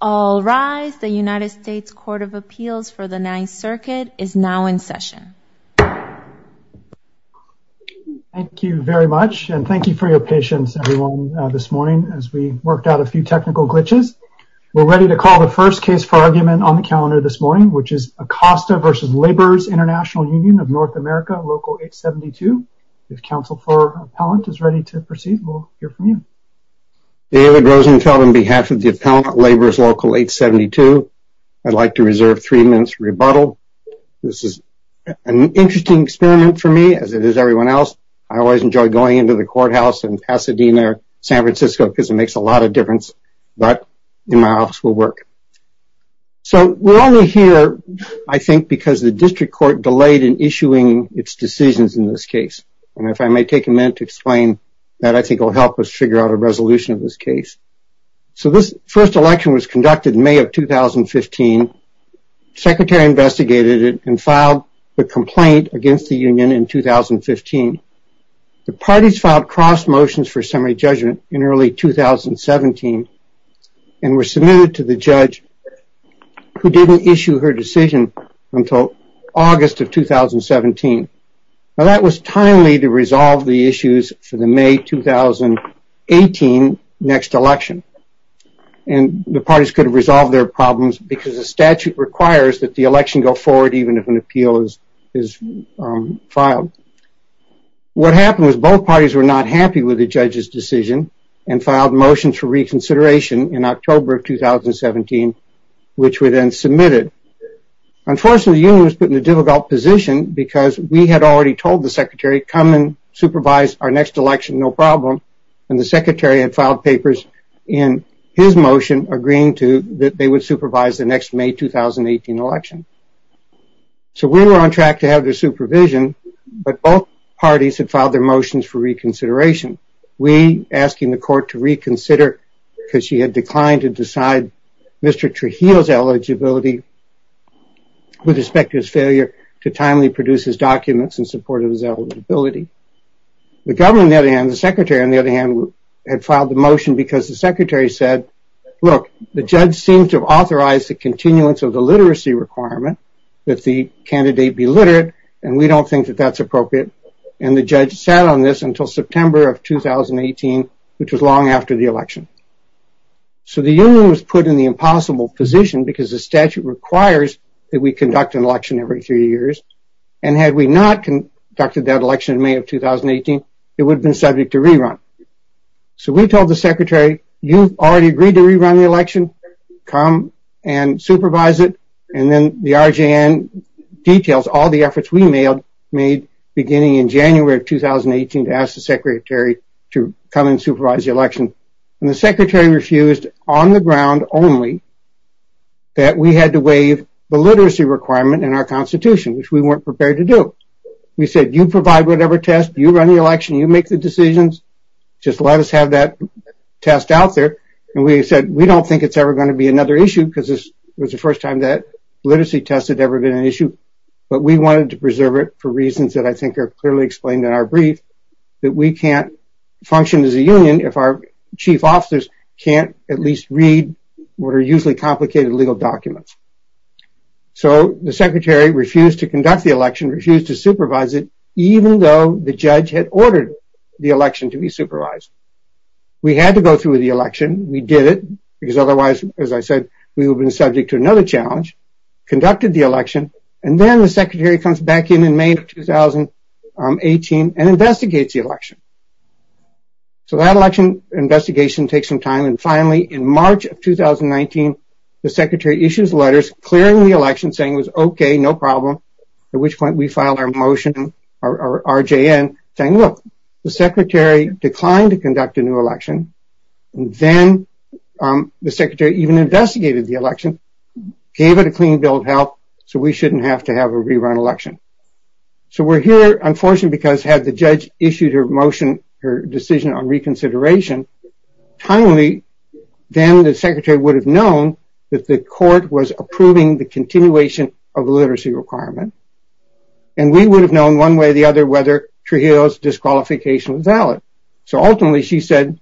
All rise. The United States Court of Appeals for the Ninth Circuit is now in session. Thank you very much, and thank you for your patience, everyone, this morning as we worked out a few technical glitches. We're ready to call the first case for argument on the calendar this morning, which is Acosta v. Labor's International Union of North America, Local 872. If Counsel for Appellant is ready to proceed, we'll hear from you. David Rosenfeld, on behalf of the Appellant, Labor's Local 872, I'd like to reserve three minutes for rebuttal. This is an interesting experiment for me, as it is everyone else. I always enjoy going into the courthouse in Pasadena, San Francisco, because it makes a lot of difference, but in my office will work. So we're only here, I think, because the district court delayed in issuing its decisions in this case. And if I may take a minute to explain, that I think will help us figure out a resolution of this case. So this first election was conducted in May of 2015. Secretary investigated it and filed the complaint against the union in 2015. The parties filed cross motions for summary judgment in early 2017 and were submitted to the judge who didn't issue her decision until August of 2017. Now, that was timely to resolve the issues for the May 2018 next election. And the parties could have resolved their problems because the statute requires that the election go forward even if an appeal is filed. What happened was both parties were not happy with the judge's decision and filed motions for reconsideration in October of 2017, which were then submitted. Unfortunately, the union was put in a difficult position because we had already told the secretary, come and supervise our next election, no problem. And the secretary had filed papers in his motion agreeing to that they would supervise the next May 2018 election. So we were on track to have their supervision, but both parties had filed their motions for reconsideration. We were asking the court to reconsider because she had declined to decide Mr. Trujillo's eligibility with respect to his failure to timely produce his documents in support of his eligibility. The government, on the other hand, the secretary, on the other hand, had filed the motion because the secretary said, look, the judge seems to have authorized the continuance of the literacy requirement that the candidate be literate. And we don't think that that's appropriate. And the judge sat on this until September of 2018, which was long after the election. So the union was put in the impossible position because the statute requires that we conduct an election every three years. And had we not conducted that election in May of 2018, it would have been subject to rerun. So we told the secretary, you've already agreed to rerun the election. Come and supervise it. And then the RJN details all the efforts we made beginning in January of 2018 to ask the secretary to come and supervise the election. And the secretary refused on the ground only that we had to waive the literacy requirement in our constitution, which we weren't prepared to do. We said, you provide whatever test. You run the election. You make the decisions. Just let us have that test out there. And we said, we don't think it's ever going to be another issue because this was the first time that literacy test had ever been an issue. But we wanted to preserve it for reasons that I think are clearly explained in our brief, that we can't function as a union if our chief officers can't at least read what are usually complicated legal documents. So the secretary refused to conduct the election, refused to supervise it, even though the judge had ordered the election to be supervised. We had to go through with the election. We did it because otherwise, as I said, we would have been subject to another challenge. Conducted the election. And then the secretary comes back in in May of 2018 and investigates the election. So that election investigation takes some time. And finally, in March of 2019, the secretary issues letters clearing the election saying it was OK, no problem. At which point we filed our motion, our RJN, saying, look, the secretary declined to conduct a new election. And then the secretary even investigated the election, gave it a clean bill of health so we shouldn't have to have a rerun election. So we're here, unfortunately, because had the judge issued her motion, her decision on reconsideration timely, then the secretary would have known that the court was approving the continuation of the literacy requirement. And we would have known one way or the other whether Trujillo's disqualification was valid. So ultimately, she said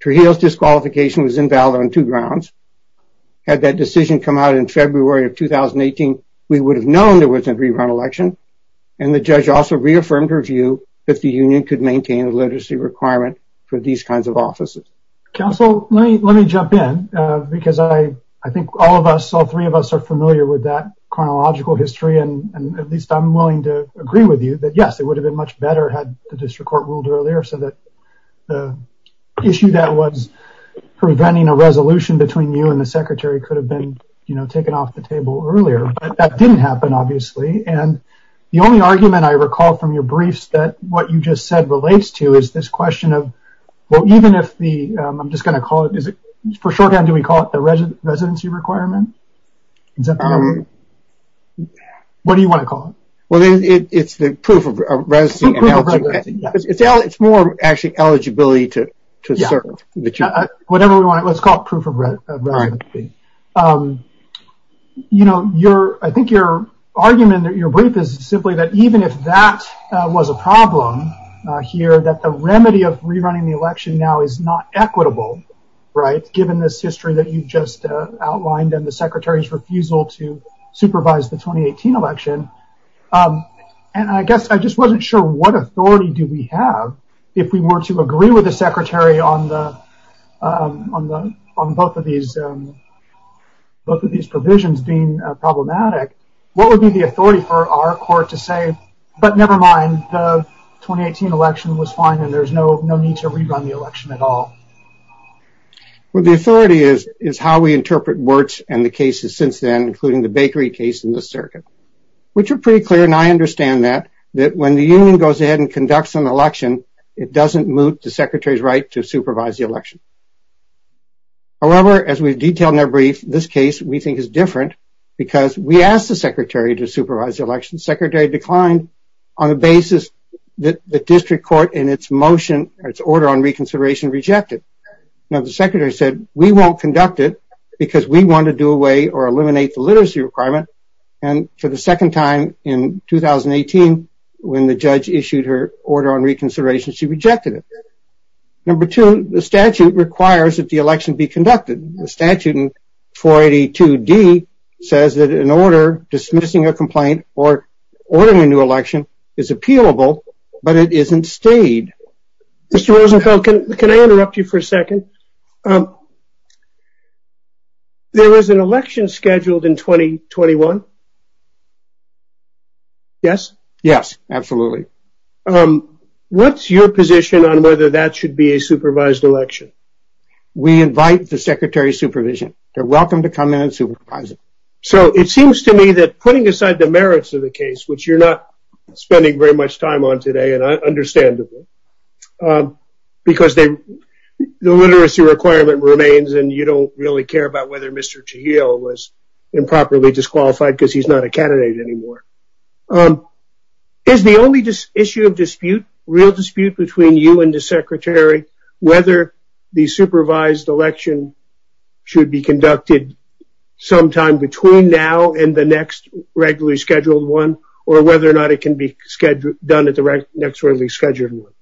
Trujillo's disqualification was invalid on two grounds. Had that decision come out in February of 2018, we would have known there was a rerun election. And the judge also reaffirmed her view that the union could maintain a literacy requirement for these kinds of offices. Counsel, let me jump in because I think all of us, all three of us are familiar with that chronological history. And at least I'm willing to agree with you that, yes, it would have been much better had the district court ruled earlier so that the issue that was preventing a resolution between you and the secretary could have been taken off the table earlier. But that didn't happen, obviously. And the only argument I recall from your briefs that what you just said relates to is this question of, well, even if the, I'm just going to call it, for short term, do we call it the residency requirement? What do you want to call it? Well, it's the proof of residency. It's more actually eligibility to serve. Whatever we want, let's call it proof of residency. You know, I think your argument in your brief is simply that even if that was a problem here, that the remedy of rerunning the election now is not equitable, right, given this history that you just outlined and the secretary's refusal to supervise the 2018 election. And I guess I just wasn't sure what authority do we have if we were to agree with the secretary on both of these provisions being problematic. What would be the authority for our court to say, but never mind, the 2018 election was fine and there's no need to rerun the election at all? Well, the authority is how we interpret Wirtz and the cases since then, including the bakery case in the circuit, which are pretty clear. And I understand that, that when the union goes ahead and conducts an election, it doesn't moot the secretary's right to supervise the election. However, as we've detailed in our brief, this case we think is different because we asked the secretary to supervise the election. The secretary declined on the basis that the district court in its motion, its order on reconsideration rejected. Now, the secretary said, we won't conduct it because we want to do away or eliminate the literacy requirement. And for the second time in 2018, when the judge issued her order on reconsideration, she rejected it. Number two, the statute requires that the election be conducted. The statute in 482D says that an order dismissing a complaint or ordering a new election is appealable, but it isn't stayed. Mr. Rosenfeld, can I interrupt you for a second? There was an election scheduled in 2021. Yes. Yes, absolutely. What's your position on whether that should be a supervised election? We invite the secretary's supervision. They're welcome to come in and supervise it. So it seems to me that putting aside the merits of the case, which you're not spending very much time on today, and I understand that. Because the literacy requirement remains and you don't really care about whether Mr. Chahil was improperly disqualified because he's not a candidate anymore. Is the only issue of dispute, real dispute between you and the secretary, whether the supervised election should be conducted sometime between now and the next regularly scheduled one, or whether or not it can be done at the next regularly scheduled one?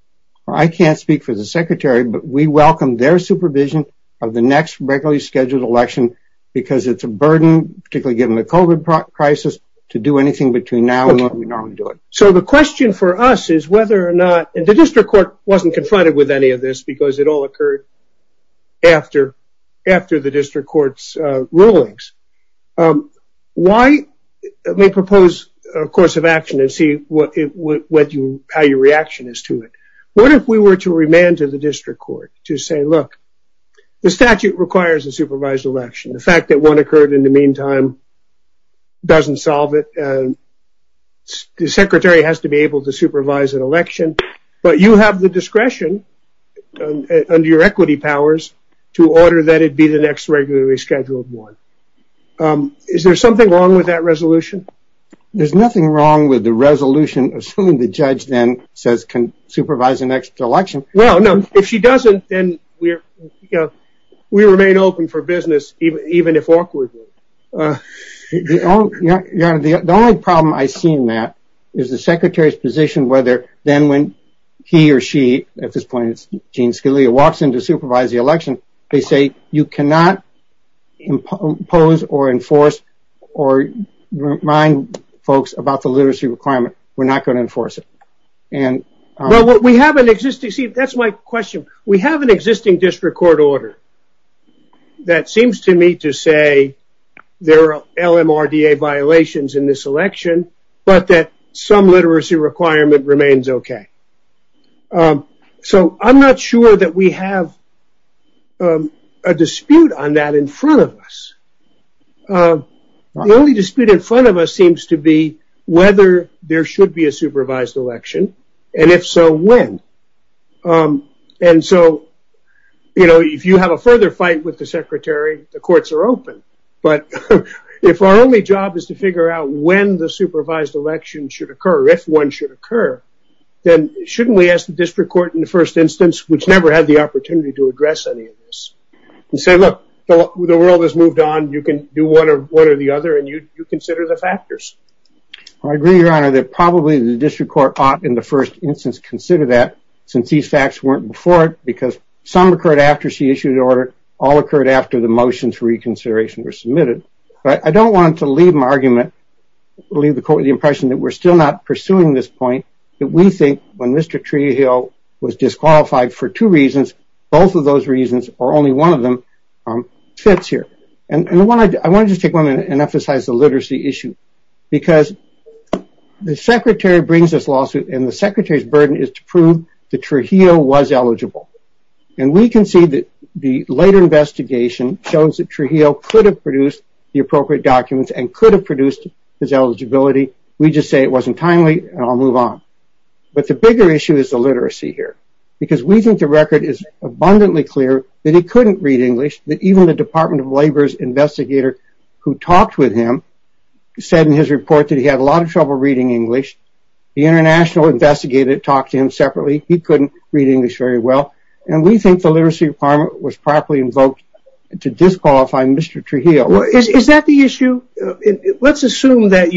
I can't speak for the secretary, but we welcome their supervision of the next regularly scheduled election. Because it's a burden, particularly given the COVID crisis, to do anything between now and when we normally do it. So the question for us is whether or not, and the district court wasn't confronted with any of this because it all occurred after the district court's rulings. Why? Let me propose a course of action and see how your reaction is to it. What if we were to remand to the district court to say, look, the statute requires a supervised election. The fact that one occurred in the meantime doesn't solve it. The secretary has to be able to supervise an election, but you have the discretion under your equity powers to order that it be the next regularly scheduled one. There's nothing wrong with the resolution assuming the judge then says can supervise the next election. No, no. If she doesn't, then we remain open for business, even if awkwardly. The only problem I've seen, Matt, is the secretary's position whether then when he or she, at this point it's Gene Scalia, walks in to supervise the election, they say you cannot impose or enforce or remind folks about the literacy requirement. We're not going to enforce it. Well, we have an existing, see, that's my question. We have an existing district court order that seems to me to say there are LMRDA violations in this election, but that some literacy requirement remains okay. So I'm not sure that we have a dispute on that in front of us. The only dispute in front of us seems to be whether there should be a supervised election, and if so, when. And so, you know, if you have a further fight with the secretary, the courts are open. But if our only job is to figure out when the supervised election should occur, if one should occur, then shouldn't we ask the district court in the first instance, which never had the opportunity to address any of this, and say look, the world has moved on, you can do one or the other and you consider the factors. I agree, Your Honor, that probably the district court ought in the first instance consider that, since these facts weren't before it because some occurred after she issued the order, all occurred after the motions for reconsideration were submitted. But I don't want to leave my argument, leave the impression that we're still not pursuing this point, that we think when Mr. Treehill was disqualified for two reasons, both of those reasons, or only one of them, fits here. And I want to just take one minute and emphasize the literacy issue. Because the secretary brings this lawsuit, and the secretary's burden is to prove that Treehill was eligible. And we can see that the later investigation shows that Treehill could have produced the appropriate documents and could have produced his eligibility. We just say it wasn't timely, and I'll move on. But the bigger issue is the literacy here. Because we think the record is abundantly clear that he couldn't read English, that even the Department of Labor's investigator who talked with him said in his report that he had a lot of trouble reading English. The international investigator talked to him separately. He couldn't read English very well. And we think the literacy requirement was properly invoked to disqualify Mr. Treehill. Is that the issue? Let's assume that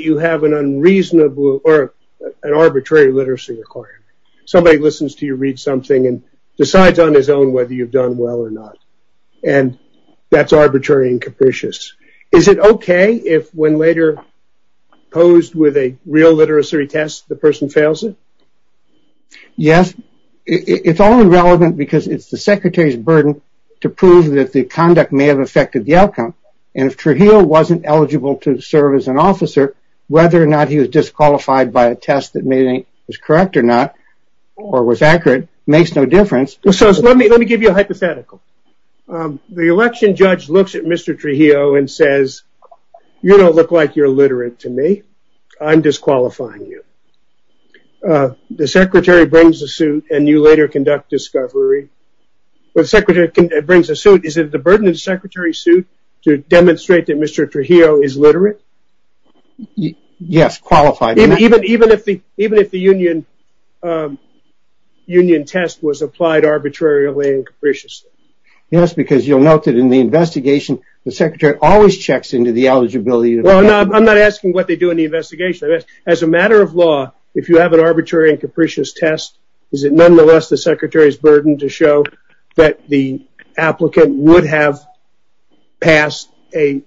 you have an unreasonable or an arbitrary literacy requirement. Somebody listens to you read something and decides on his own whether you've done well or not. And that's arbitrary and capricious. Is it okay if when later posed with a real literacy test, the person fails it? Yes. It's all irrelevant because it's the secretary's burden to prove that the conduct may have affected the outcome. And if Treehill wasn't eligible to serve as an officer, whether or not he was disqualified by a test that was correct or not or was accurate makes no difference. So let me give you a hypothetical. The election judge looks at Mr. Treehill and says, you don't look like you're literate to me. I'm disqualifying you. The secretary brings a suit and you later conduct discovery. The secretary brings a suit. Is it the burden of the secretary's suit to demonstrate that Mr. Treehill is literate? Yes, qualified. Even if the union test was applied arbitrarily and capriciously? Yes, because you'll note that in the investigation, the secretary always checks into the eligibility. I'm not asking what they do in the investigation. As a matter of law, if you have an arbitrary and capricious test, is it nonetheless the secretary's burden to show that the applicant would have passed a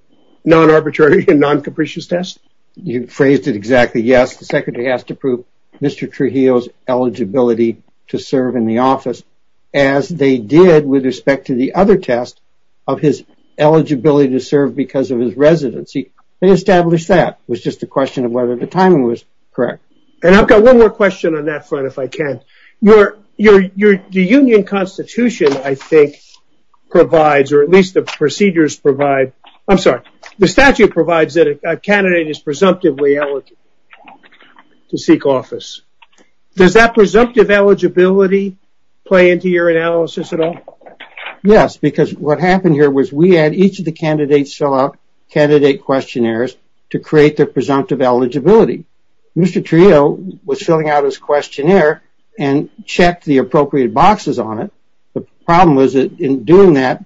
non-arbitrary and non-capricious test? You phrased it exactly. Yes, the secretary has to prove Mr. Treehill's eligibility to serve in the office, as they did with respect to the other test of his eligibility to serve because of his residency. They established that. It was just a question of whether the timing was correct. And I've got one more question on that front, if I can. The union constitution, I think, provides, or at least the procedures provide, I'm sorry, the statute provides that a candidate is presumptively eligible to seek office. Does that presumptive eligibility play into your analysis at all? Yes, because what happened here was we had each of the candidates fill out candidate questionnaires to create their presumptive eligibility. Mr. Treehill was filling out his questionnaire and checked the appropriate boxes on it. The problem was that in doing that,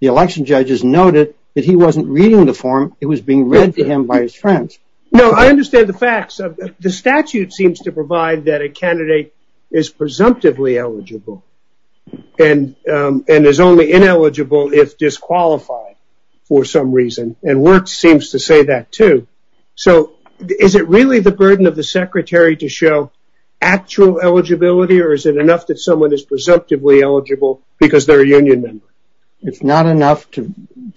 the election judges noted that he wasn't reading the form. It was being read to him by his friends. No, I understand the facts. The statute seems to provide that a candidate is presumptively eligible and is only ineligible if disqualified for some reason. And works seems to say that, too. So is it really the burden of the secretary to show actual eligibility or is it enough that someone is presumptively eligible because they're a union member? It's not enough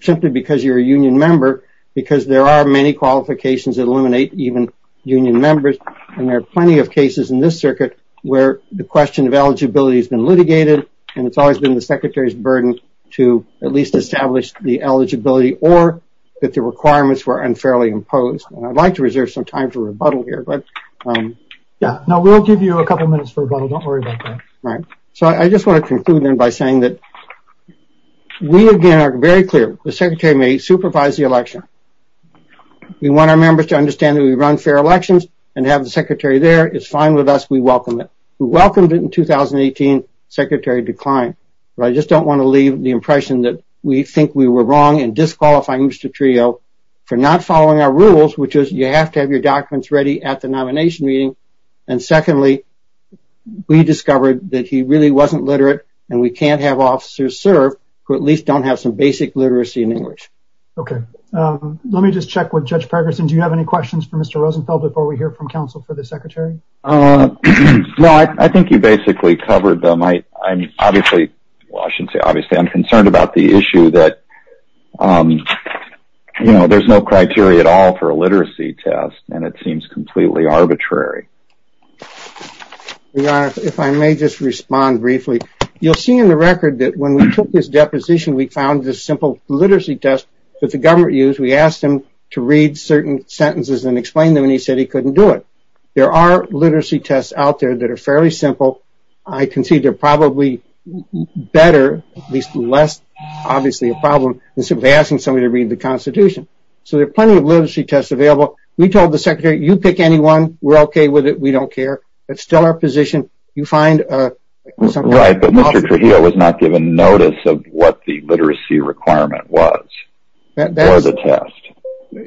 simply because you're a union member because there are many qualifications that eliminate even union members. And there are plenty of cases in this circuit where the question of eligibility has been litigated and it's always been the secretary's burden to at least establish the eligibility or that the requirements were unfairly imposed. And I'd like to reserve some time for rebuttal here, but yeah. Now, we'll give you a couple minutes for rebuttal. Don't worry about that. Right. So I just want to conclude then by saying that we, again, are very clear. The secretary may supervise the election. We want our members to understand that we run fair elections and have the secretary there. It's fine with us. We welcome it. We welcomed it in 2018. Secretary declined. I just don't want to leave the impression that we think we were wrong in disqualifying Mr. Trio for not following our rules, which is you have to have your documents ready at the nomination meeting. And secondly, we discovered that he really wasn't literate and we can't have officers serve who at least don't have some basic literacy in English. Okay. Let me just check with Judge Pergerson. Do you have any questions for Mr. Rosenfeld before we hear from counsel for the secretary? No, I think you basically covered them. Well, I shouldn't say obviously. I'm concerned about the issue that, you know, there's no criteria at all for a literacy test and it seems completely arbitrary. Your Honor, if I may just respond briefly. You'll see in the record that when we took this deposition, we found this simple literacy test that the government used. We asked him to read certain sentences and explain them and he said he couldn't do it. There are literacy tests out there that are fairly simple. I can see they're probably better, at least less obviously a problem, than simply asking somebody to read the Constitution. So there are plenty of literacy tests available. We told the secretary, you pick any one. We're okay with it. We don't care. It's still our position. You find something. Right, but Mr. Trujillo was not given notice of what the literacy requirement was for the test.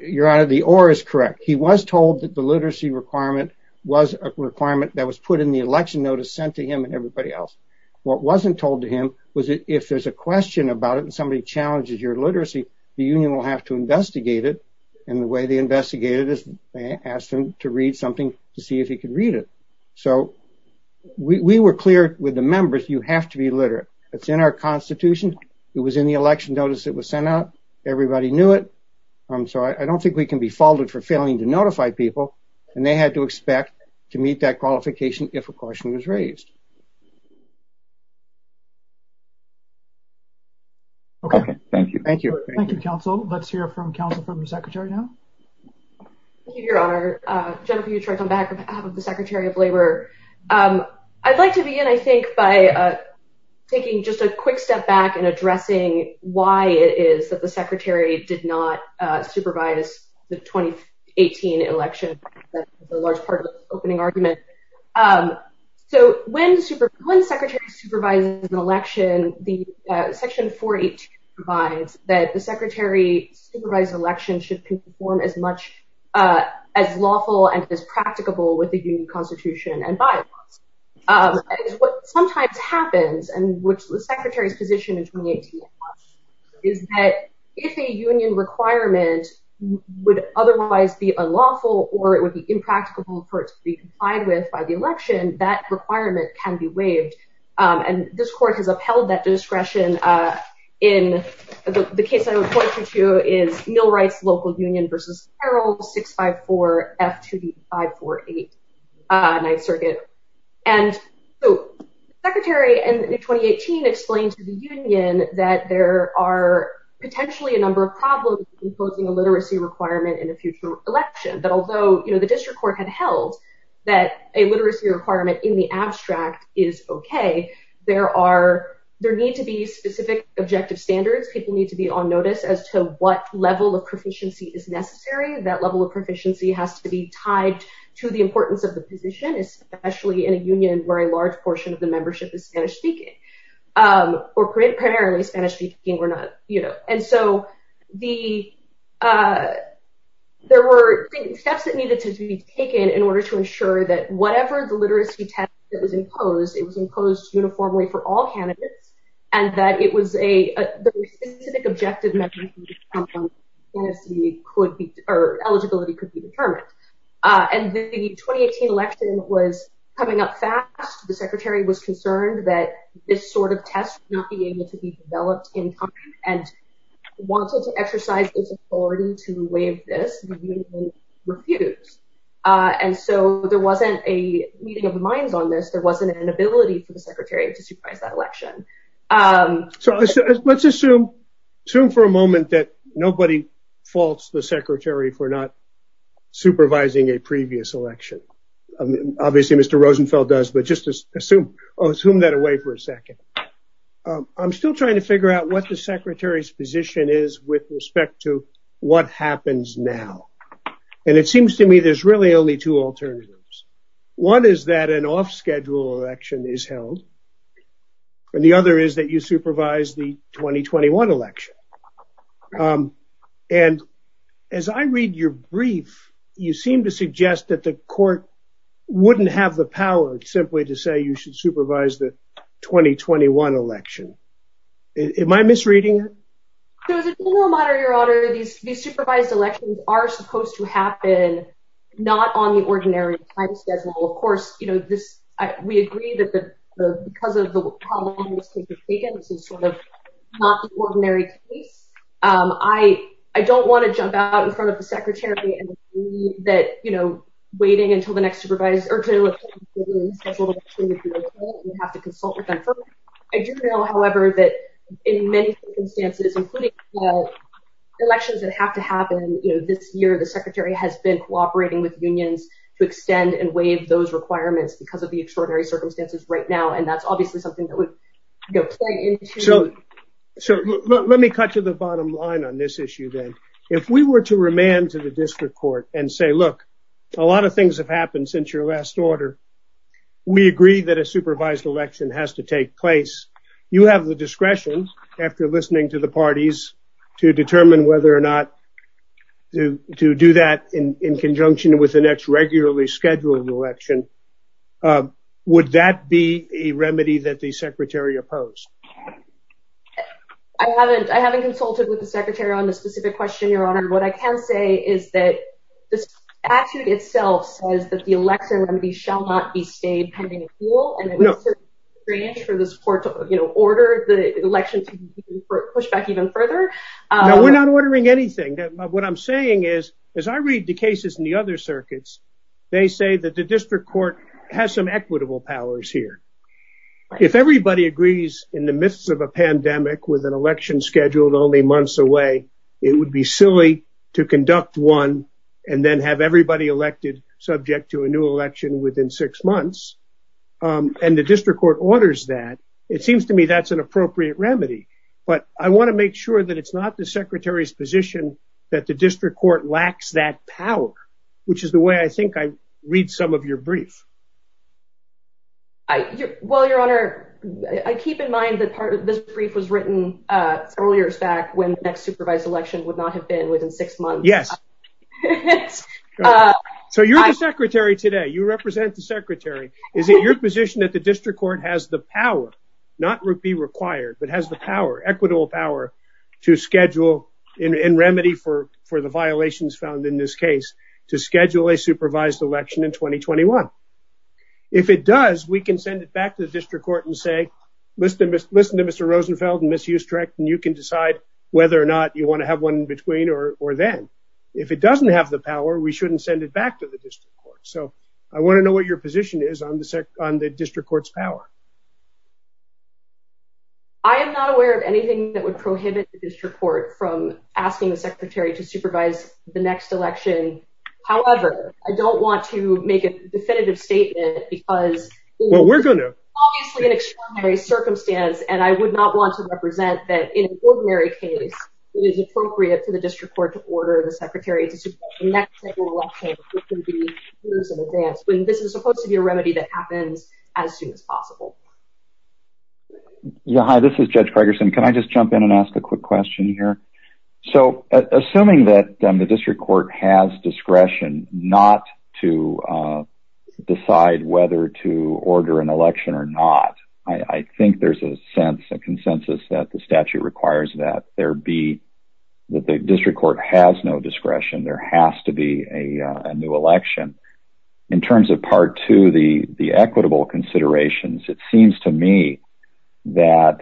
Your Honor, the or is correct. He was told that the literacy requirement was a requirement that was put in the election notice sent to him and everybody else. What wasn't told to him was if there's a question about it and somebody challenges your literacy, the union will have to investigate it. And the way they investigated it is they asked him to read something to see if he could read it. So we were clear with the members. You have to be literate. It's in our Constitution. It was in the election notice that was sent out. Everybody knew it. So I don't think we can be faulted for failing to notify people, and they had to expect to meet that qualification if a question was raised. Okay, thank you. Thank you. Thank you, counsel. Let's hear from counsel from the secretary now. Your Honor, Jennifer Utrecht on behalf of the Secretary of Labor. I'd like to begin, I think, by taking just a quick step back and addressing why it is that the secretary did not supervise the 2018 election. That's a large part of the opening argument. So when the secretary supervises an election, Section 482 provides that the secretary supervise election should perform as much as lawful and as practicable with the union constitution and bylaws. What sometimes happens, and which the secretary's position in 2018 is that if a union requirement would otherwise be unlawful or it would be impracticable for it to be complied with by the election, that requirement can be waived. And this court has upheld that discretion in the case I would point you to is Millwright's Local Union v. Carroll, 654-F2D-548, 9th Circuit. And so the secretary in 2018 explained to the union that there are potentially a number of problems in proposing a literacy requirement in a future election. That although the district court had held that a literacy requirement in the abstract is okay, there need to be specific objective standards. People need to be on notice as to what level of proficiency is necessary. That level of proficiency has to be tied to the importance of the position, especially in a union where a large portion of the membership is Spanish-speaking or primarily Spanish-speaking or not. And so there were steps that needed to be taken in order to ensure that whatever the literacy test that was imposed, it was imposed uniformly for all candidates. And that it was a specific objective that eligibility could be determined. And the 2018 election was coming up fast. The secretary was concerned that this sort of test would not be able to be developed in time and wanted to exercise its authority to waive this, the union refused. And so there wasn't a meeting of the minds on this. There wasn't an ability for the secretary to supervise that election. So let's assume for a moment that nobody faults the secretary for not supervising a previous election. Obviously, Mr. Rosenfeld does, but just assume that away for a second. I'm still trying to figure out what the secretary's position is with respect to what happens now. And it seems to me there's really only two alternatives. One is that an off-schedule election is held. And the other is that you supervise the 2021 election. And as I read your brief, you seem to suggest that the court wouldn't have the power simply to say you should supervise the 2021 election. Am I misreading it? So as a general matter, Your Honor, these supervised elections are supposed to happen not on the ordinary time schedule. Of course, you know, we agree that because of the problems taken, this is sort of not the ordinary case. I don't want to jump out in front of the secretary that, you know, waiting until the next supervise or to have to consult with them. I do know, however, that in many circumstances, including elections that have to happen this year, the secretary has been cooperating with unions to extend and waive those requirements because of the extraordinary circumstances right now. And that's obviously something that would play into. So let me cut to the bottom line on this issue. Then if we were to remand to the district court and say, look, a lot of things have happened since your last order. We agree that a supervised election has to take place. You have the discretion after listening to the parties to determine whether or not to do that in conjunction with the next regularly scheduled election. Would that be a remedy that the secretary opposed? I haven't. I haven't consulted with the secretary on this specific question, Your Honor. And what I can say is that the statute itself says that the election shall not be stayed pending. And it's strange for this court to order the election to push back even further. We're not ordering anything. What I'm saying is, as I read the cases in the other circuits, they say that the district court has some equitable powers here. If everybody agrees in the midst of a pandemic with an election scheduled only months away, it would be silly to conduct one and then have everybody elected subject to a new election within six months. And the district court orders that. It seems to me that's an appropriate remedy. But I want to make sure that it's not the secretary's position that the district court lacks that power, which is the way I think I read some of your brief. Well, Your Honor, I keep in mind that part of this brief was written several years back when the next supervised election would not have been within six months. Yes. So you're the secretary today. You represent the secretary. Is it your position that the district court has the power, not be required, but has the power, equitable power to schedule in remedy for for the violations found in this case to schedule a supervised election in 2021? If it does, we can send it back to the district court and say, listen, listen to Mr. Rosenfeld and Ms. Hustrecht, and you can decide whether or not you want to have one in between or then. If it doesn't have the power, we shouldn't send it back to the district court. So I want to know what your position is on the district court's power. I am not aware of anything that would prohibit the district court from asking the secretary to supervise the next election. However, I don't want to make a definitive statement because we're going to obviously an extraordinary circumstance. And I would not want to represent that in an ordinary case. It is appropriate for the district court to order the secretary to support the next election in advance. This is supposed to be a remedy that happens as soon as possible. Yeah. Hi, this is Judge Gregerson. Can I just jump in and ask a quick question here? So assuming that the district court has discretion not to decide whether to order an election or not, I think there's a sense of consensus that the statute requires that there be that the district court has no discretion. There has to be a new election in terms of part to the equitable considerations. It seems to me that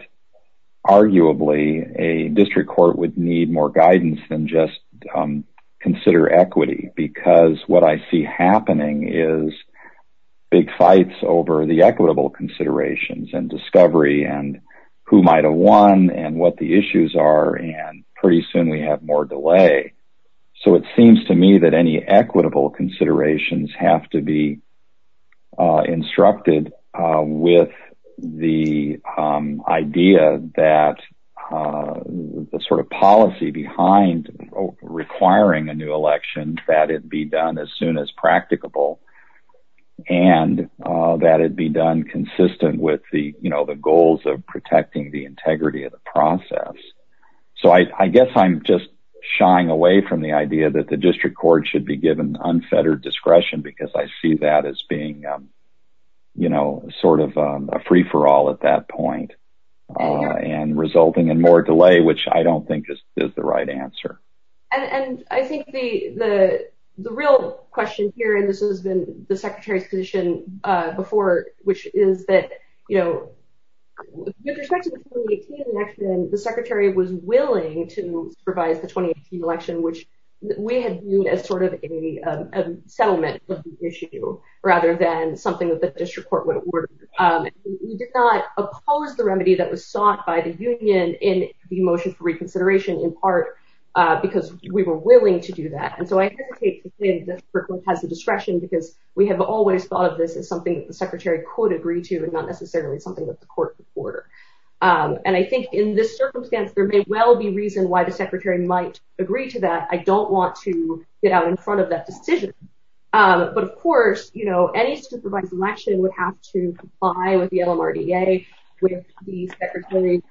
arguably a district court would need more guidance than just consider equity, because what I see happening is big fights over the equitable considerations and discovery and who might have won and what the issues are. And pretty soon we have more delay. So it seems to me that any equitable considerations have to be instructed with the idea that the sort of policy behind requiring a new election, that it be done as soon as practicable and that it be done consistent with the goals of protecting the integrity of the process. So I guess I'm just shying away from the idea that the district court should be given unfettered discretion because I see that as being, you know, sort of a free for all at that point and resulting in more delay, which I don't think is the right answer. And I think the real question here, and this has been the secretary's position before, which is that, you know, with respect to the 2018 election, the secretary was willing to supervise the 2018 election, which we had viewed as sort of a settlement issue rather than something that the district court would order. We did not oppose the remedy that was sought by the union in the motion for reconsideration, in part because we were willing to do that. And so I hesitate to say that the district court has the discretion because we have always thought of this as something that the secretary could agree to and not necessarily something that the court could order. And I think in this circumstance, there may well be reason why the secretary might agree to that. I don't want to get out in front of that decision. But, of course, you know, any supervised election would have to comply with the LMRDA with the secretary's,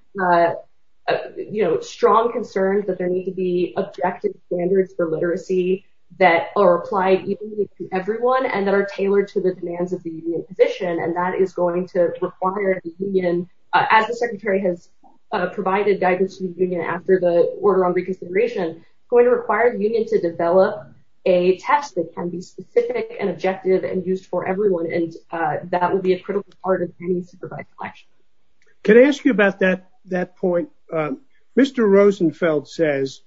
you know, strong concerns that there need to be objective standards for literacy that are applied to everyone and that are tailored to the demands of the position. And that is going to require the union, as the secretary has provided guidance to the union after the order on reconsideration, going to require the union to develop a test that can be specific and objective and used for everyone. And that would be a critical part of any supervised election. Can I ask you about that? That point, Mr. Rosenfeld says.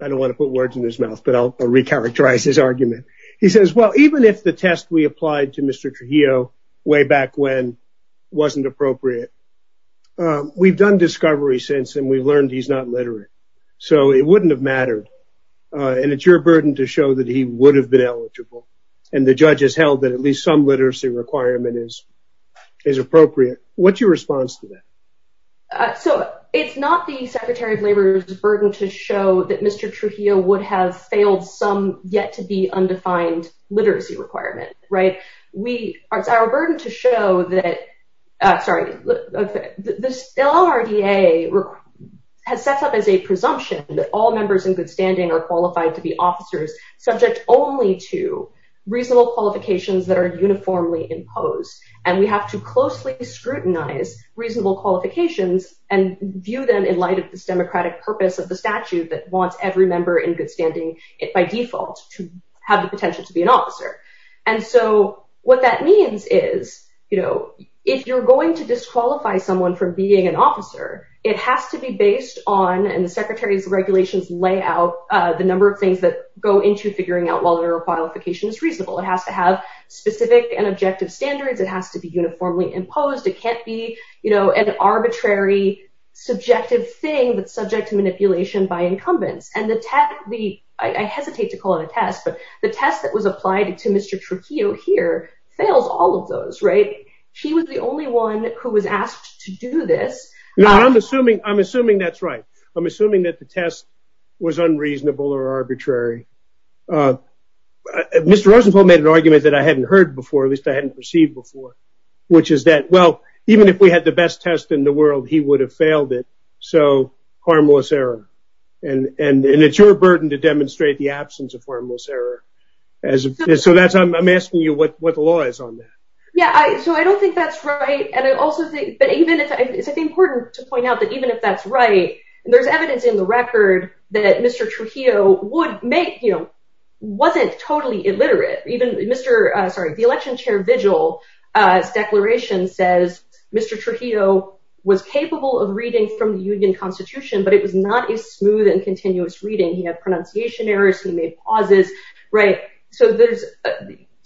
I don't want to put words in his mouth, but I'll recharacterize his argument. He says, well, even if the test we applied to Mr. Trujillo way back when wasn't appropriate. We've done discovery since and we've learned he's not literate. So it wouldn't have mattered. And it's your burden to show that he would have been eligible. And the judge has held that at least some literacy requirement is appropriate. What's your response to that? So it's not the secretary of labor's burden to show that Mr. Trujillo would have failed some yet to be undefined literacy requirement. It's our burden to show that this LRDA has set up as a presumption that all members in good standing are qualified to be officers subject only to reasonable qualifications that are uniformly imposed. And we have to closely scrutinize reasonable qualifications and view them in light of this democratic purpose of the statute that wants every member in good standing by default to have the potential to be an officer. And so what that means is, you know, if you're going to disqualify someone from being an officer, it has to be based on and the secretary's regulations lay out the number of things that go into figuring out whether a qualification is reasonable. It has to have specific and objective standards. It has to be uniformly imposed. It can't be, you know, an arbitrary, subjective thing that's subject to manipulation by incumbents. I hesitate to call it a test, but the test that was applied to Mr. Trujillo here fails all of those. Right. He was the only one who was asked to do this. I'm assuming I'm assuming that's right. I'm assuming that the test was unreasonable or arbitrary. Mr. Rosenfeld made an argument that I hadn't heard before, at least I hadn't received before, which is that, well, even if we had the best test in the world, he would have failed it. So harmless error. And it's your burden to demonstrate the absence of harmless error. So that's I'm asking you what what the law is on that. Yeah. So I don't think that's right. And I also think that even if it's important to point out that even if that's right, there's evidence in the record that Mr. Trujillo would make him wasn't totally illiterate. The election chair vigil declaration says Mr. Trujillo was capable of reading from the union constitution, but it was not a smooth and continuous reading. He had pronunciation errors. He made pauses. Right. So there's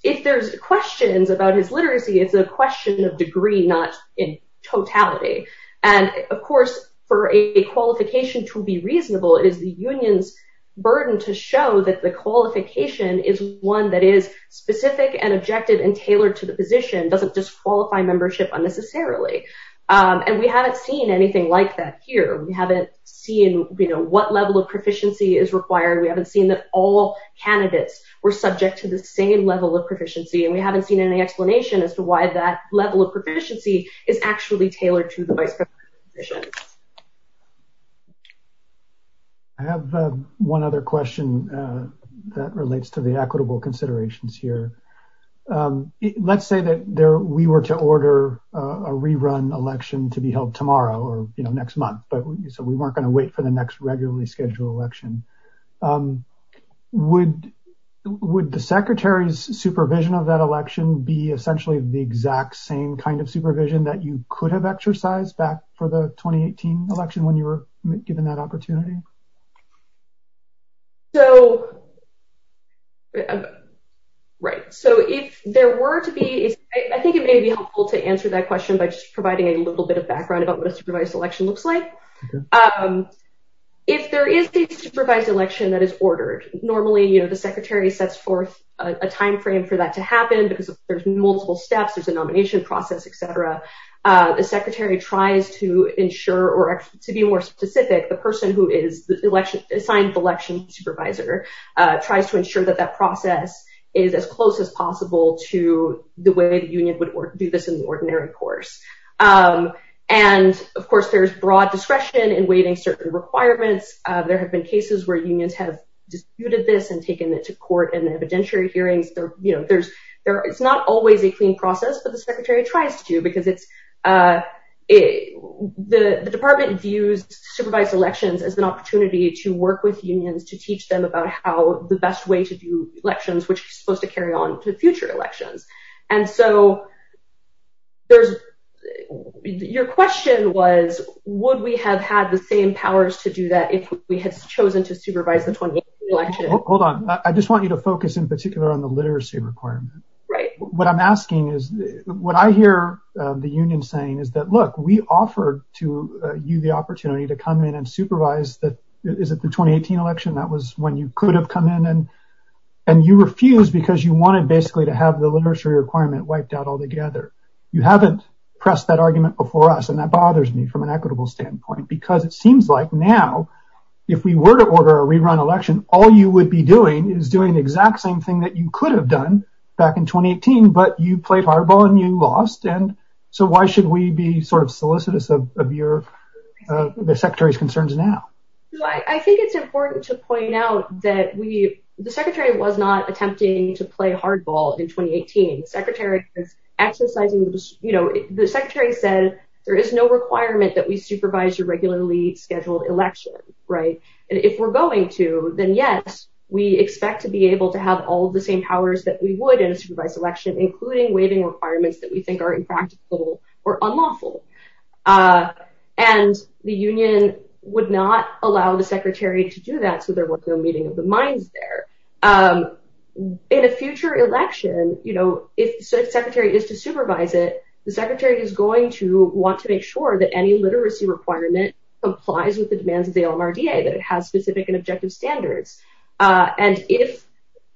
if there's questions about his literacy, it's a question of degree, not in totality. And, of course, for a qualification to be reasonable is the union's burden to show that the qualification is one that is specific and objective and tailored to the position doesn't disqualify membership unnecessarily. And we haven't seen anything like that here. We haven't seen what level of proficiency is required. We haven't seen that all candidates were subject to the same level of proficiency. And we haven't seen any explanation as to why that level of proficiency is actually tailored to the vice. I have one other question that relates to the equitable considerations here. Let's say that there we were to order a rerun election to be held tomorrow or next month. But we weren't going to wait for the next regularly scheduled election. Would would the secretary's supervision of that election be essentially the exact same kind of supervision that you could have exercised back for the 2018 election when you were given that opportunity? So. Right. So if there were to be I think it may be helpful to answer that question by just providing a little bit of background about what a supervised election looks like. If there is a supervised election that is ordered normally, you know, the secretary sets forth a time frame for that to happen because there's multiple steps, there's a nomination process, etc. The secretary tries to ensure or to be more specific, the person who is the election assigned election supervisor tries to ensure that that process is as close as possible to the way the union would do this in the ordinary course. And, of course, there's broad discretion in waiting certain requirements. There have been cases where unions have disputed this and taken it to court and evidentiary hearings. It's not always a clean process, but the secretary tries to because it's the department views supervised elections as an opportunity to work with unions to teach them about how the best way to do elections, which is supposed to carry on to future elections. And so there's your question was, would we have had the same powers to do that if we had chosen to supervise the election? Hold on. I just want you to focus in particular on the literacy requirement, right? What I'm asking is what I hear the union saying is that, look, we offered to you the opportunity to come in and supervise that. Is it the 2018 election? That was when you could have come in and and you refused because you wanted basically to have the literacy requirement wiped out altogether. You haven't pressed that argument before us. And that bothers me from an equitable standpoint, because it seems like now if we were to order a rerun election, all you would be doing is doing the exact same thing that you could have done back in 2018. But you played hardball and you lost. And so why should we be sort of solicitous of your secretary's concerns now? I think it's important to point out that the secretary was not attempting to play hardball in 2018. The secretary said there is no requirement that we supervise a regularly scheduled election. Right. And if we're going to, then, yes, we expect to be able to have all the same powers that we would in a supervised election, including waiving requirements that we think are impractical or unlawful. And the union would not allow the secretary to do that. So there was no meeting of the minds there in a future election. You know, if the secretary is to supervise it, the secretary is going to want to make sure that any literacy requirement complies with the demands of the LMRDA, that it has specific and objective standards. And if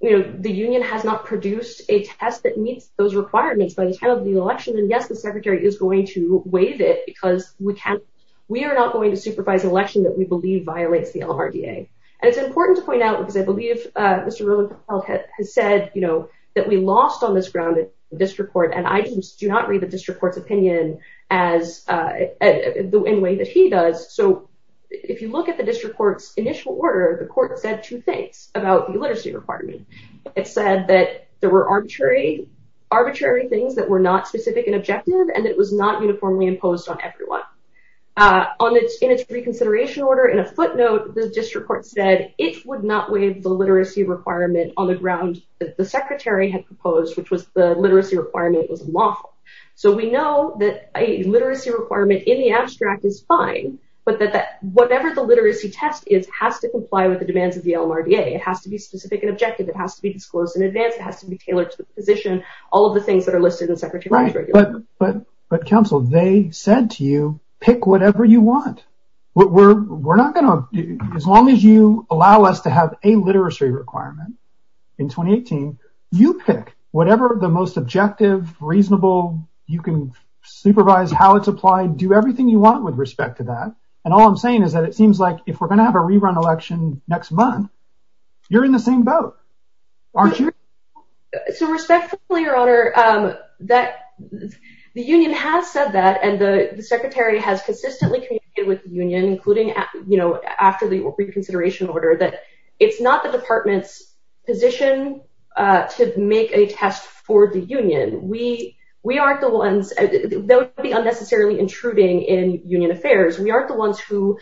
the union has not produced a test that meets those requirements by the time of the election, then, yes, the secretary is going to waive it because we are not going to supervise an election that we believe violates the LMRDA. And it's important to point out, because I believe Mr. Rosenfeld has said, you know, that we lost on this ground in the district court, and I do not read the district court's opinion in the way that he does. So if you look at the district court's initial order, the court said two things about the literacy requirement. It said that there were arbitrary things that were not specific and objective, and it was not uniformly imposed on everyone. In its reconsideration order, in a footnote, the district court said it would not waive the literacy requirement on the ground that the secretary had proposed, which was the literacy requirement was unlawful. So we know that a literacy requirement in the abstract is fine, but that whatever the literacy test is has to comply with the demands of the LMRDA. It has to be specific and objective. It has to be disclosed in advance. It has to be tailored to the position, all of the things that are listed in the secretary's regulations. But, counsel, they said to you, pick whatever you want. As long as you allow us to have a literacy requirement in 2018, you pick whatever the most objective, reasonable, you can supervise how it's applied, do everything you want with respect to that. And all I'm saying is that it seems like if we're going to have a rerun election next month, you're in the same boat. So respectfully, your honor, that the union has said that and the secretary has consistently communicated with the union, including, you know, after the reconsideration order, that it's not the department's position to make a test for the union. We we aren't the ones that would be unnecessarily intruding in union affairs. We aren't the ones who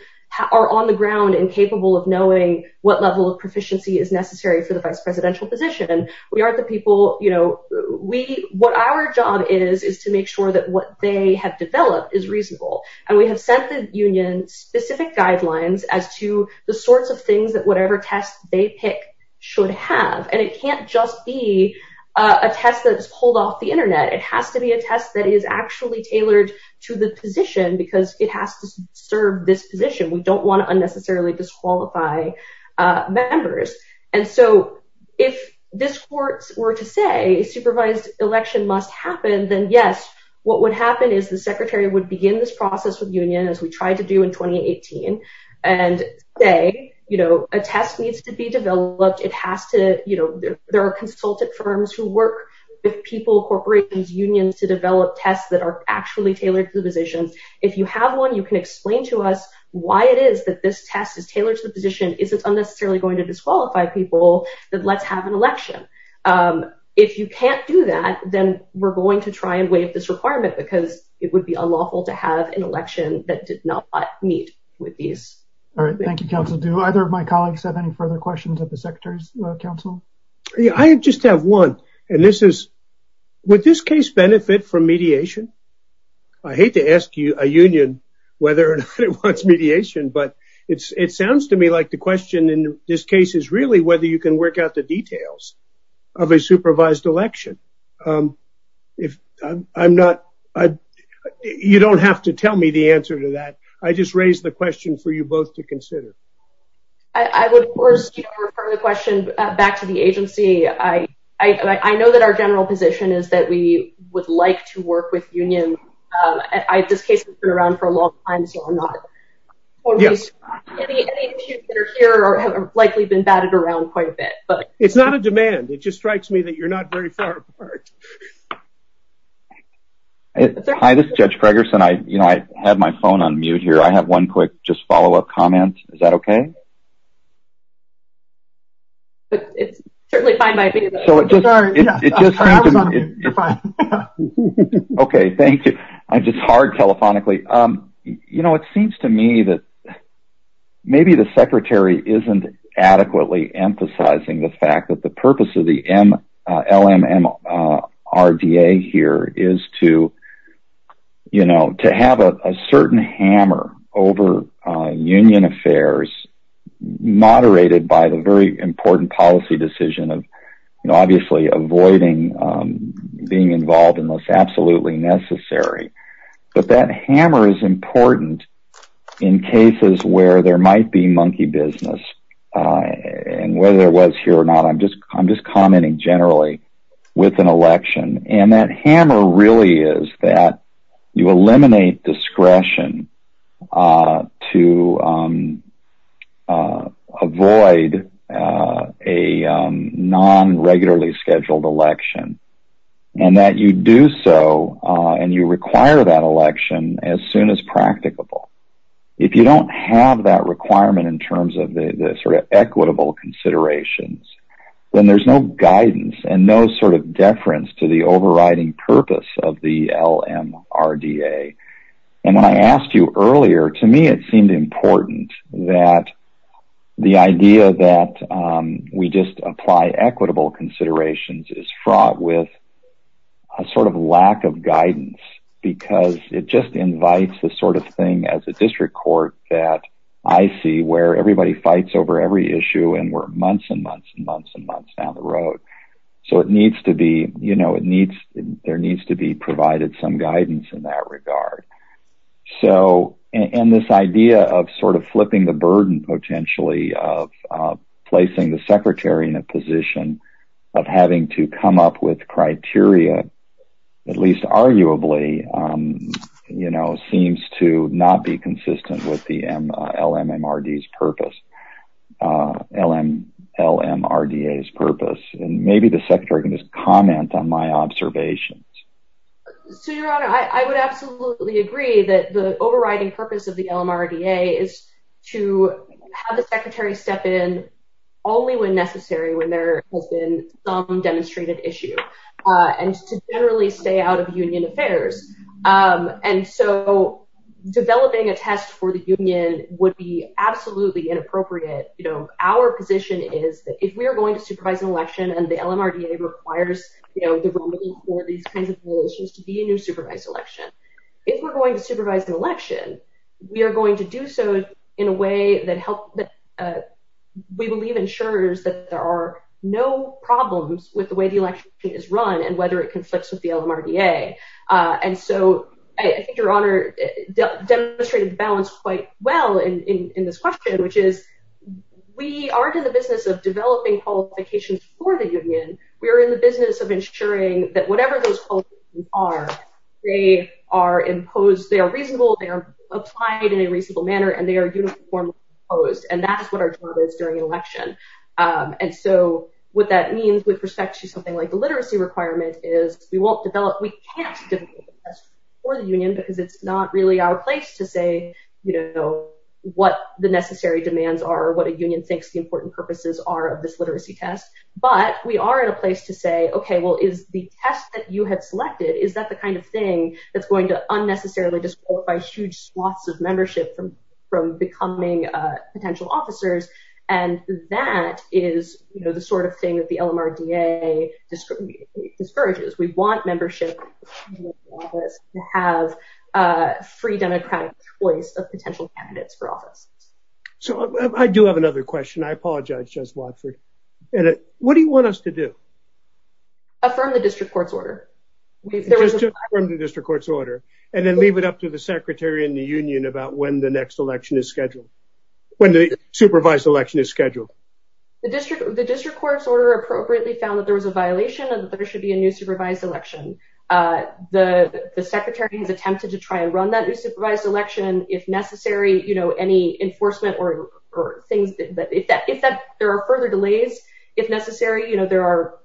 are on the ground and capable of knowing what level of proficiency is necessary for the vice presidential position. And we aren't the people you know, we what our job is, is to make sure that what they have developed is reasonable. And we have sent the union specific guidelines as to the sorts of things that whatever test they pick should have. And it can't just be a test that is pulled off the Internet. It has to be a test that is actually tailored to the position because it has to serve this position. We don't want to unnecessarily disqualify members. And so if this court were to say supervised election must happen, then, yes, what would happen is the secretary would begin this process with union, as we tried to do in 2018. And say, you know, a test needs to be developed. It has to. You know, there are consulted firms who work with people, corporations, unions to develop tests that are actually tailored to the positions. If you have one, you can explain to us why it is that this test is tailored to the position. Is it unnecessarily going to disqualify people that let's have an election? If you can't do that, then we're going to try and waive this requirement because it would be unlawful to have an election that did not meet with these. All right. Thank you, counsel. Do either of my colleagues have any further questions of the secretary's counsel? I just have one. And this is what this case benefit from mediation. I hate to ask you a union whether or not it wants mediation, but it's it sounds to me like the question in this case is really whether you can work out the details of a supervised election. If I'm not, you don't have to tell me the answer to that. I just raised the question for you both to consider. I would, of course, the question back to the agency. I, I know that our general position is that we would like to work with union. I, this case has been around for a long time. So I'm not. Yes. Here are likely been batted around quite a bit, but it's not a demand. It just strikes me that you're not very far apart. Hi, this is Judge Ferguson. I have my phone on mute here. I have one quick just follow up comment. Is that OK? But it's certainly fine by me. So it just it just. You're fine. OK, thank you. I'm just hard telephonically. You know, it seems to me that maybe the secretary isn't adequately emphasizing the fact that the purpose of the M. RDA here is to, you know, to have a certain hammer over union affairs moderated by the very important policy decision of, you know, obviously avoiding being involved in this absolutely necessary. But that hammer is important in cases where there might be monkey business. And whether it was here or not, I'm just I'm just commenting generally with an election. And that hammer really is that you eliminate discretion to avoid a non regularly scheduled election. And that you do so and you require that election as soon as practicable. If you don't have that requirement in terms of the sort of equitable considerations, then there's no guidance and no sort of deference to the overriding purpose of the L.M.R.D.A. And when I asked you earlier, to me, it seemed important that the idea that we just apply equitable considerations is fraught with. A sort of lack of guidance, because it just invites the sort of thing as a district court that I see where everybody fights over every issue. And we're months and months and months and months down the road. So it needs to be you know, it needs there needs to be provided some guidance in that regard. So and this idea of sort of flipping the burden potentially of placing the secretary in a position of having to come up with criteria, at least arguably, you know, seems to not be consistent with the L.M.R.D.'s purpose. L.M.R.D.A.'s purpose. And maybe the secretary can just comment on my observations. So, Your Honor, I would absolutely agree that the overriding purpose of the L.M.R.D.A. is to have the secretary step in only when necessary, when there has been some demonstrated issue and to generally stay out of union affairs. And so developing a test for the union would be absolutely inappropriate. You know, our position is that if we are going to supervise an election and the L.M.R.D.A. requires, you know, for these kinds of issues to be a new supervised election, if we're going to supervise the election, we are going to do so in a way that help that we believe ensures that there are no problems with the way the election is run and whether it conflicts with the L.M.R.D.A. And so I think Your Honor demonstrated the balance quite well in this question, which is we aren't in the business of developing qualifications for the union. We are in the business of ensuring that whatever those qualifications are, they are imposed. They are reasonable. They are applied in a reasonable manner and they are uniformly imposed. And that is what our job is during an election. And so what that means with respect to something like the literacy requirement is we won't develop, we can't develop a test for the union because it's not really our place to say, you know, what the necessary demands are, what a union thinks the important purposes are of this literacy test. But we are in a place to say, OK, well, is the test that you have selected, is that the kind of thing that's going to unnecessarily disqualify huge swaths of membership from becoming potential officers? And that is the sort of thing that the L.M.R.D.A. discourages. We want membership to have a free democratic choice of potential candidates for office. So I do have another question. I apologize, Judge Watford. And what do you want us to do? Affirm the district court's order. Affirm the district court's order and then leave it up to the secretary in the union about when the next election is scheduled. When the supervised election is scheduled. The district, the district court's order appropriately found that there was a violation and that there should be a new supervised election. The secretary has attempted to try and run that new supervised election if necessary. You know, any enforcement or things that if there are further delays, if necessary, you know, there are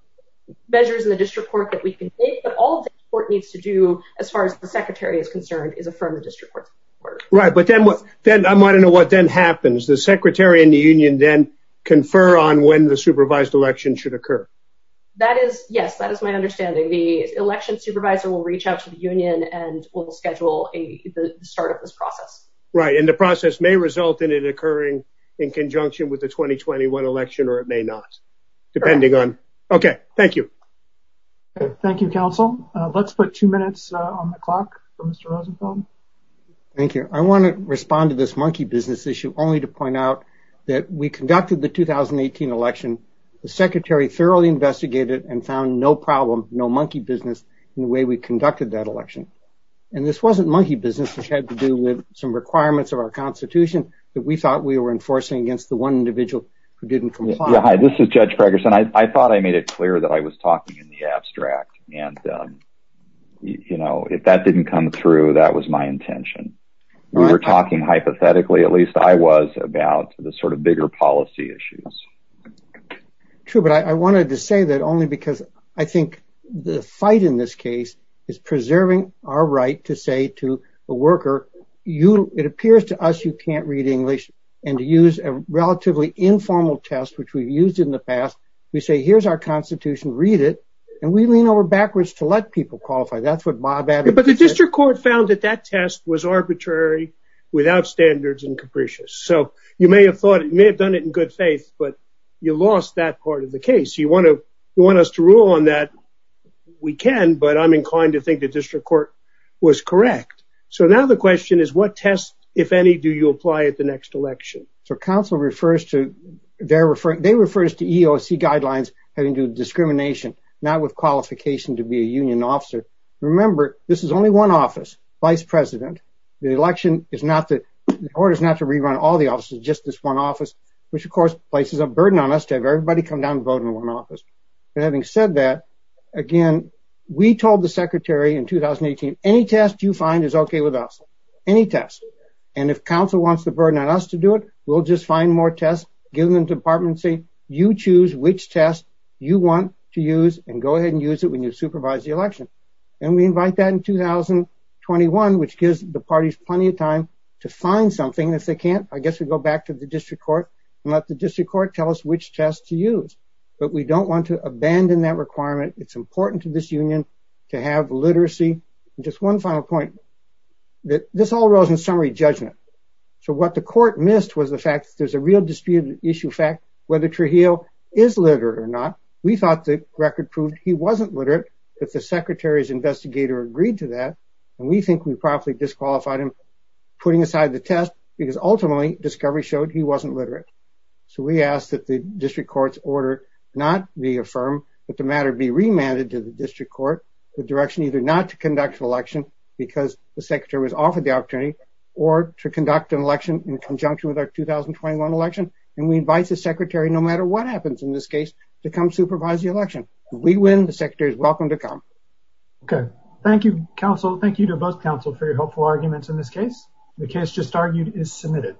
measures in the district court that we can take. But all the court needs to do as far as the secretary is concerned is affirm the district court's order. Right. But then what then I might know what then happens. The secretary in the union then confer on when the supervised election should occur. That is. Yes, that is my understanding. The election supervisor will reach out to the union and will schedule the start of this process. Right. And the process may result in it occurring in conjunction with the 2021 election or it may not, depending on. OK, thank you. Thank you, counsel. Let's put two minutes on the clock. Thank you. I want to respond to this monkey business issue only to point out that we conducted the 2018 election. The secretary thoroughly investigated and found no problem. No monkey business in the way we conducted that election. And this wasn't monkey business. It had to do with some requirements of our Constitution that we thought we were enforcing against the one individual who didn't comply. This is Judge Ferguson. I thought I made it clear that I was talking in the abstract. And, you know, if that didn't come through, that was my intention. We were talking hypothetically, at least I was, about the sort of bigger policy issues. True. But I wanted to say that only because I think the fight in this case is preserving our right to say to a worker, you. It appears to us you can't read English and use a relatively informal test, which we've used in the past. We say, here's our Constitution. Read it. And we lean over backwards to let people qualify. That's what Bob added. But the district court found that that test was arbitrary, without standards and capricious. So you may have thought it may have done it in good faith, but you lost that part of the case. You want to you want us to rule on that? We can. But I'm inclined to think the district court was correct. So now the question is, what test, if any, do you apply at the next election? So council refers to they're referring they refer us to EEOC guidelines having to discrimination, not with qualification to be a union officer. Remember, this is only one office vice president. The election is not that the court is not to rerun all the offices. Just this one office, which, of course, places a burden on us to have everybody come down and vote in one office. And having said that, again, we told the secretary in 2018, any test you find is OK with us. Any test. And if council wants the burden on us to do it, we'll just find more tests, give them to the department and say, you choose which test you want to use and go ahead and use it when you supervise the election. And we invite that in 2021, which gives the parties plenty of time to find something if they can't. I guess we go back to the district court and let the district court tell us which test to use. But we don't want to abandon that requirement. It's important to this union to have literacy. Just one final point that this all rose in summary judgment. So what the court missed was the fact that there's a real disputed issue fact whether Trujillo is literate or not. We thought the record proved he wasn't literate if the secretary's investigator agreed to that. And we think we probably disqualified him putting aside the test because ultimately discovery showed he wasn't literate. So we asked that the district court's order not be affirmed, but the matter be remanded to the district court. The direction either not to conduct an election because the secretary was offered the opportunity or to conduct an election in conjunction with our 2021 election. And we advise the secretary no matter what happens in this case to come supervise the election. We win. The secretary is welcome to come. Okay. Thank you, counsel. Thank you to both counsel for your helpful arguments in this case. The case just argued is submitted.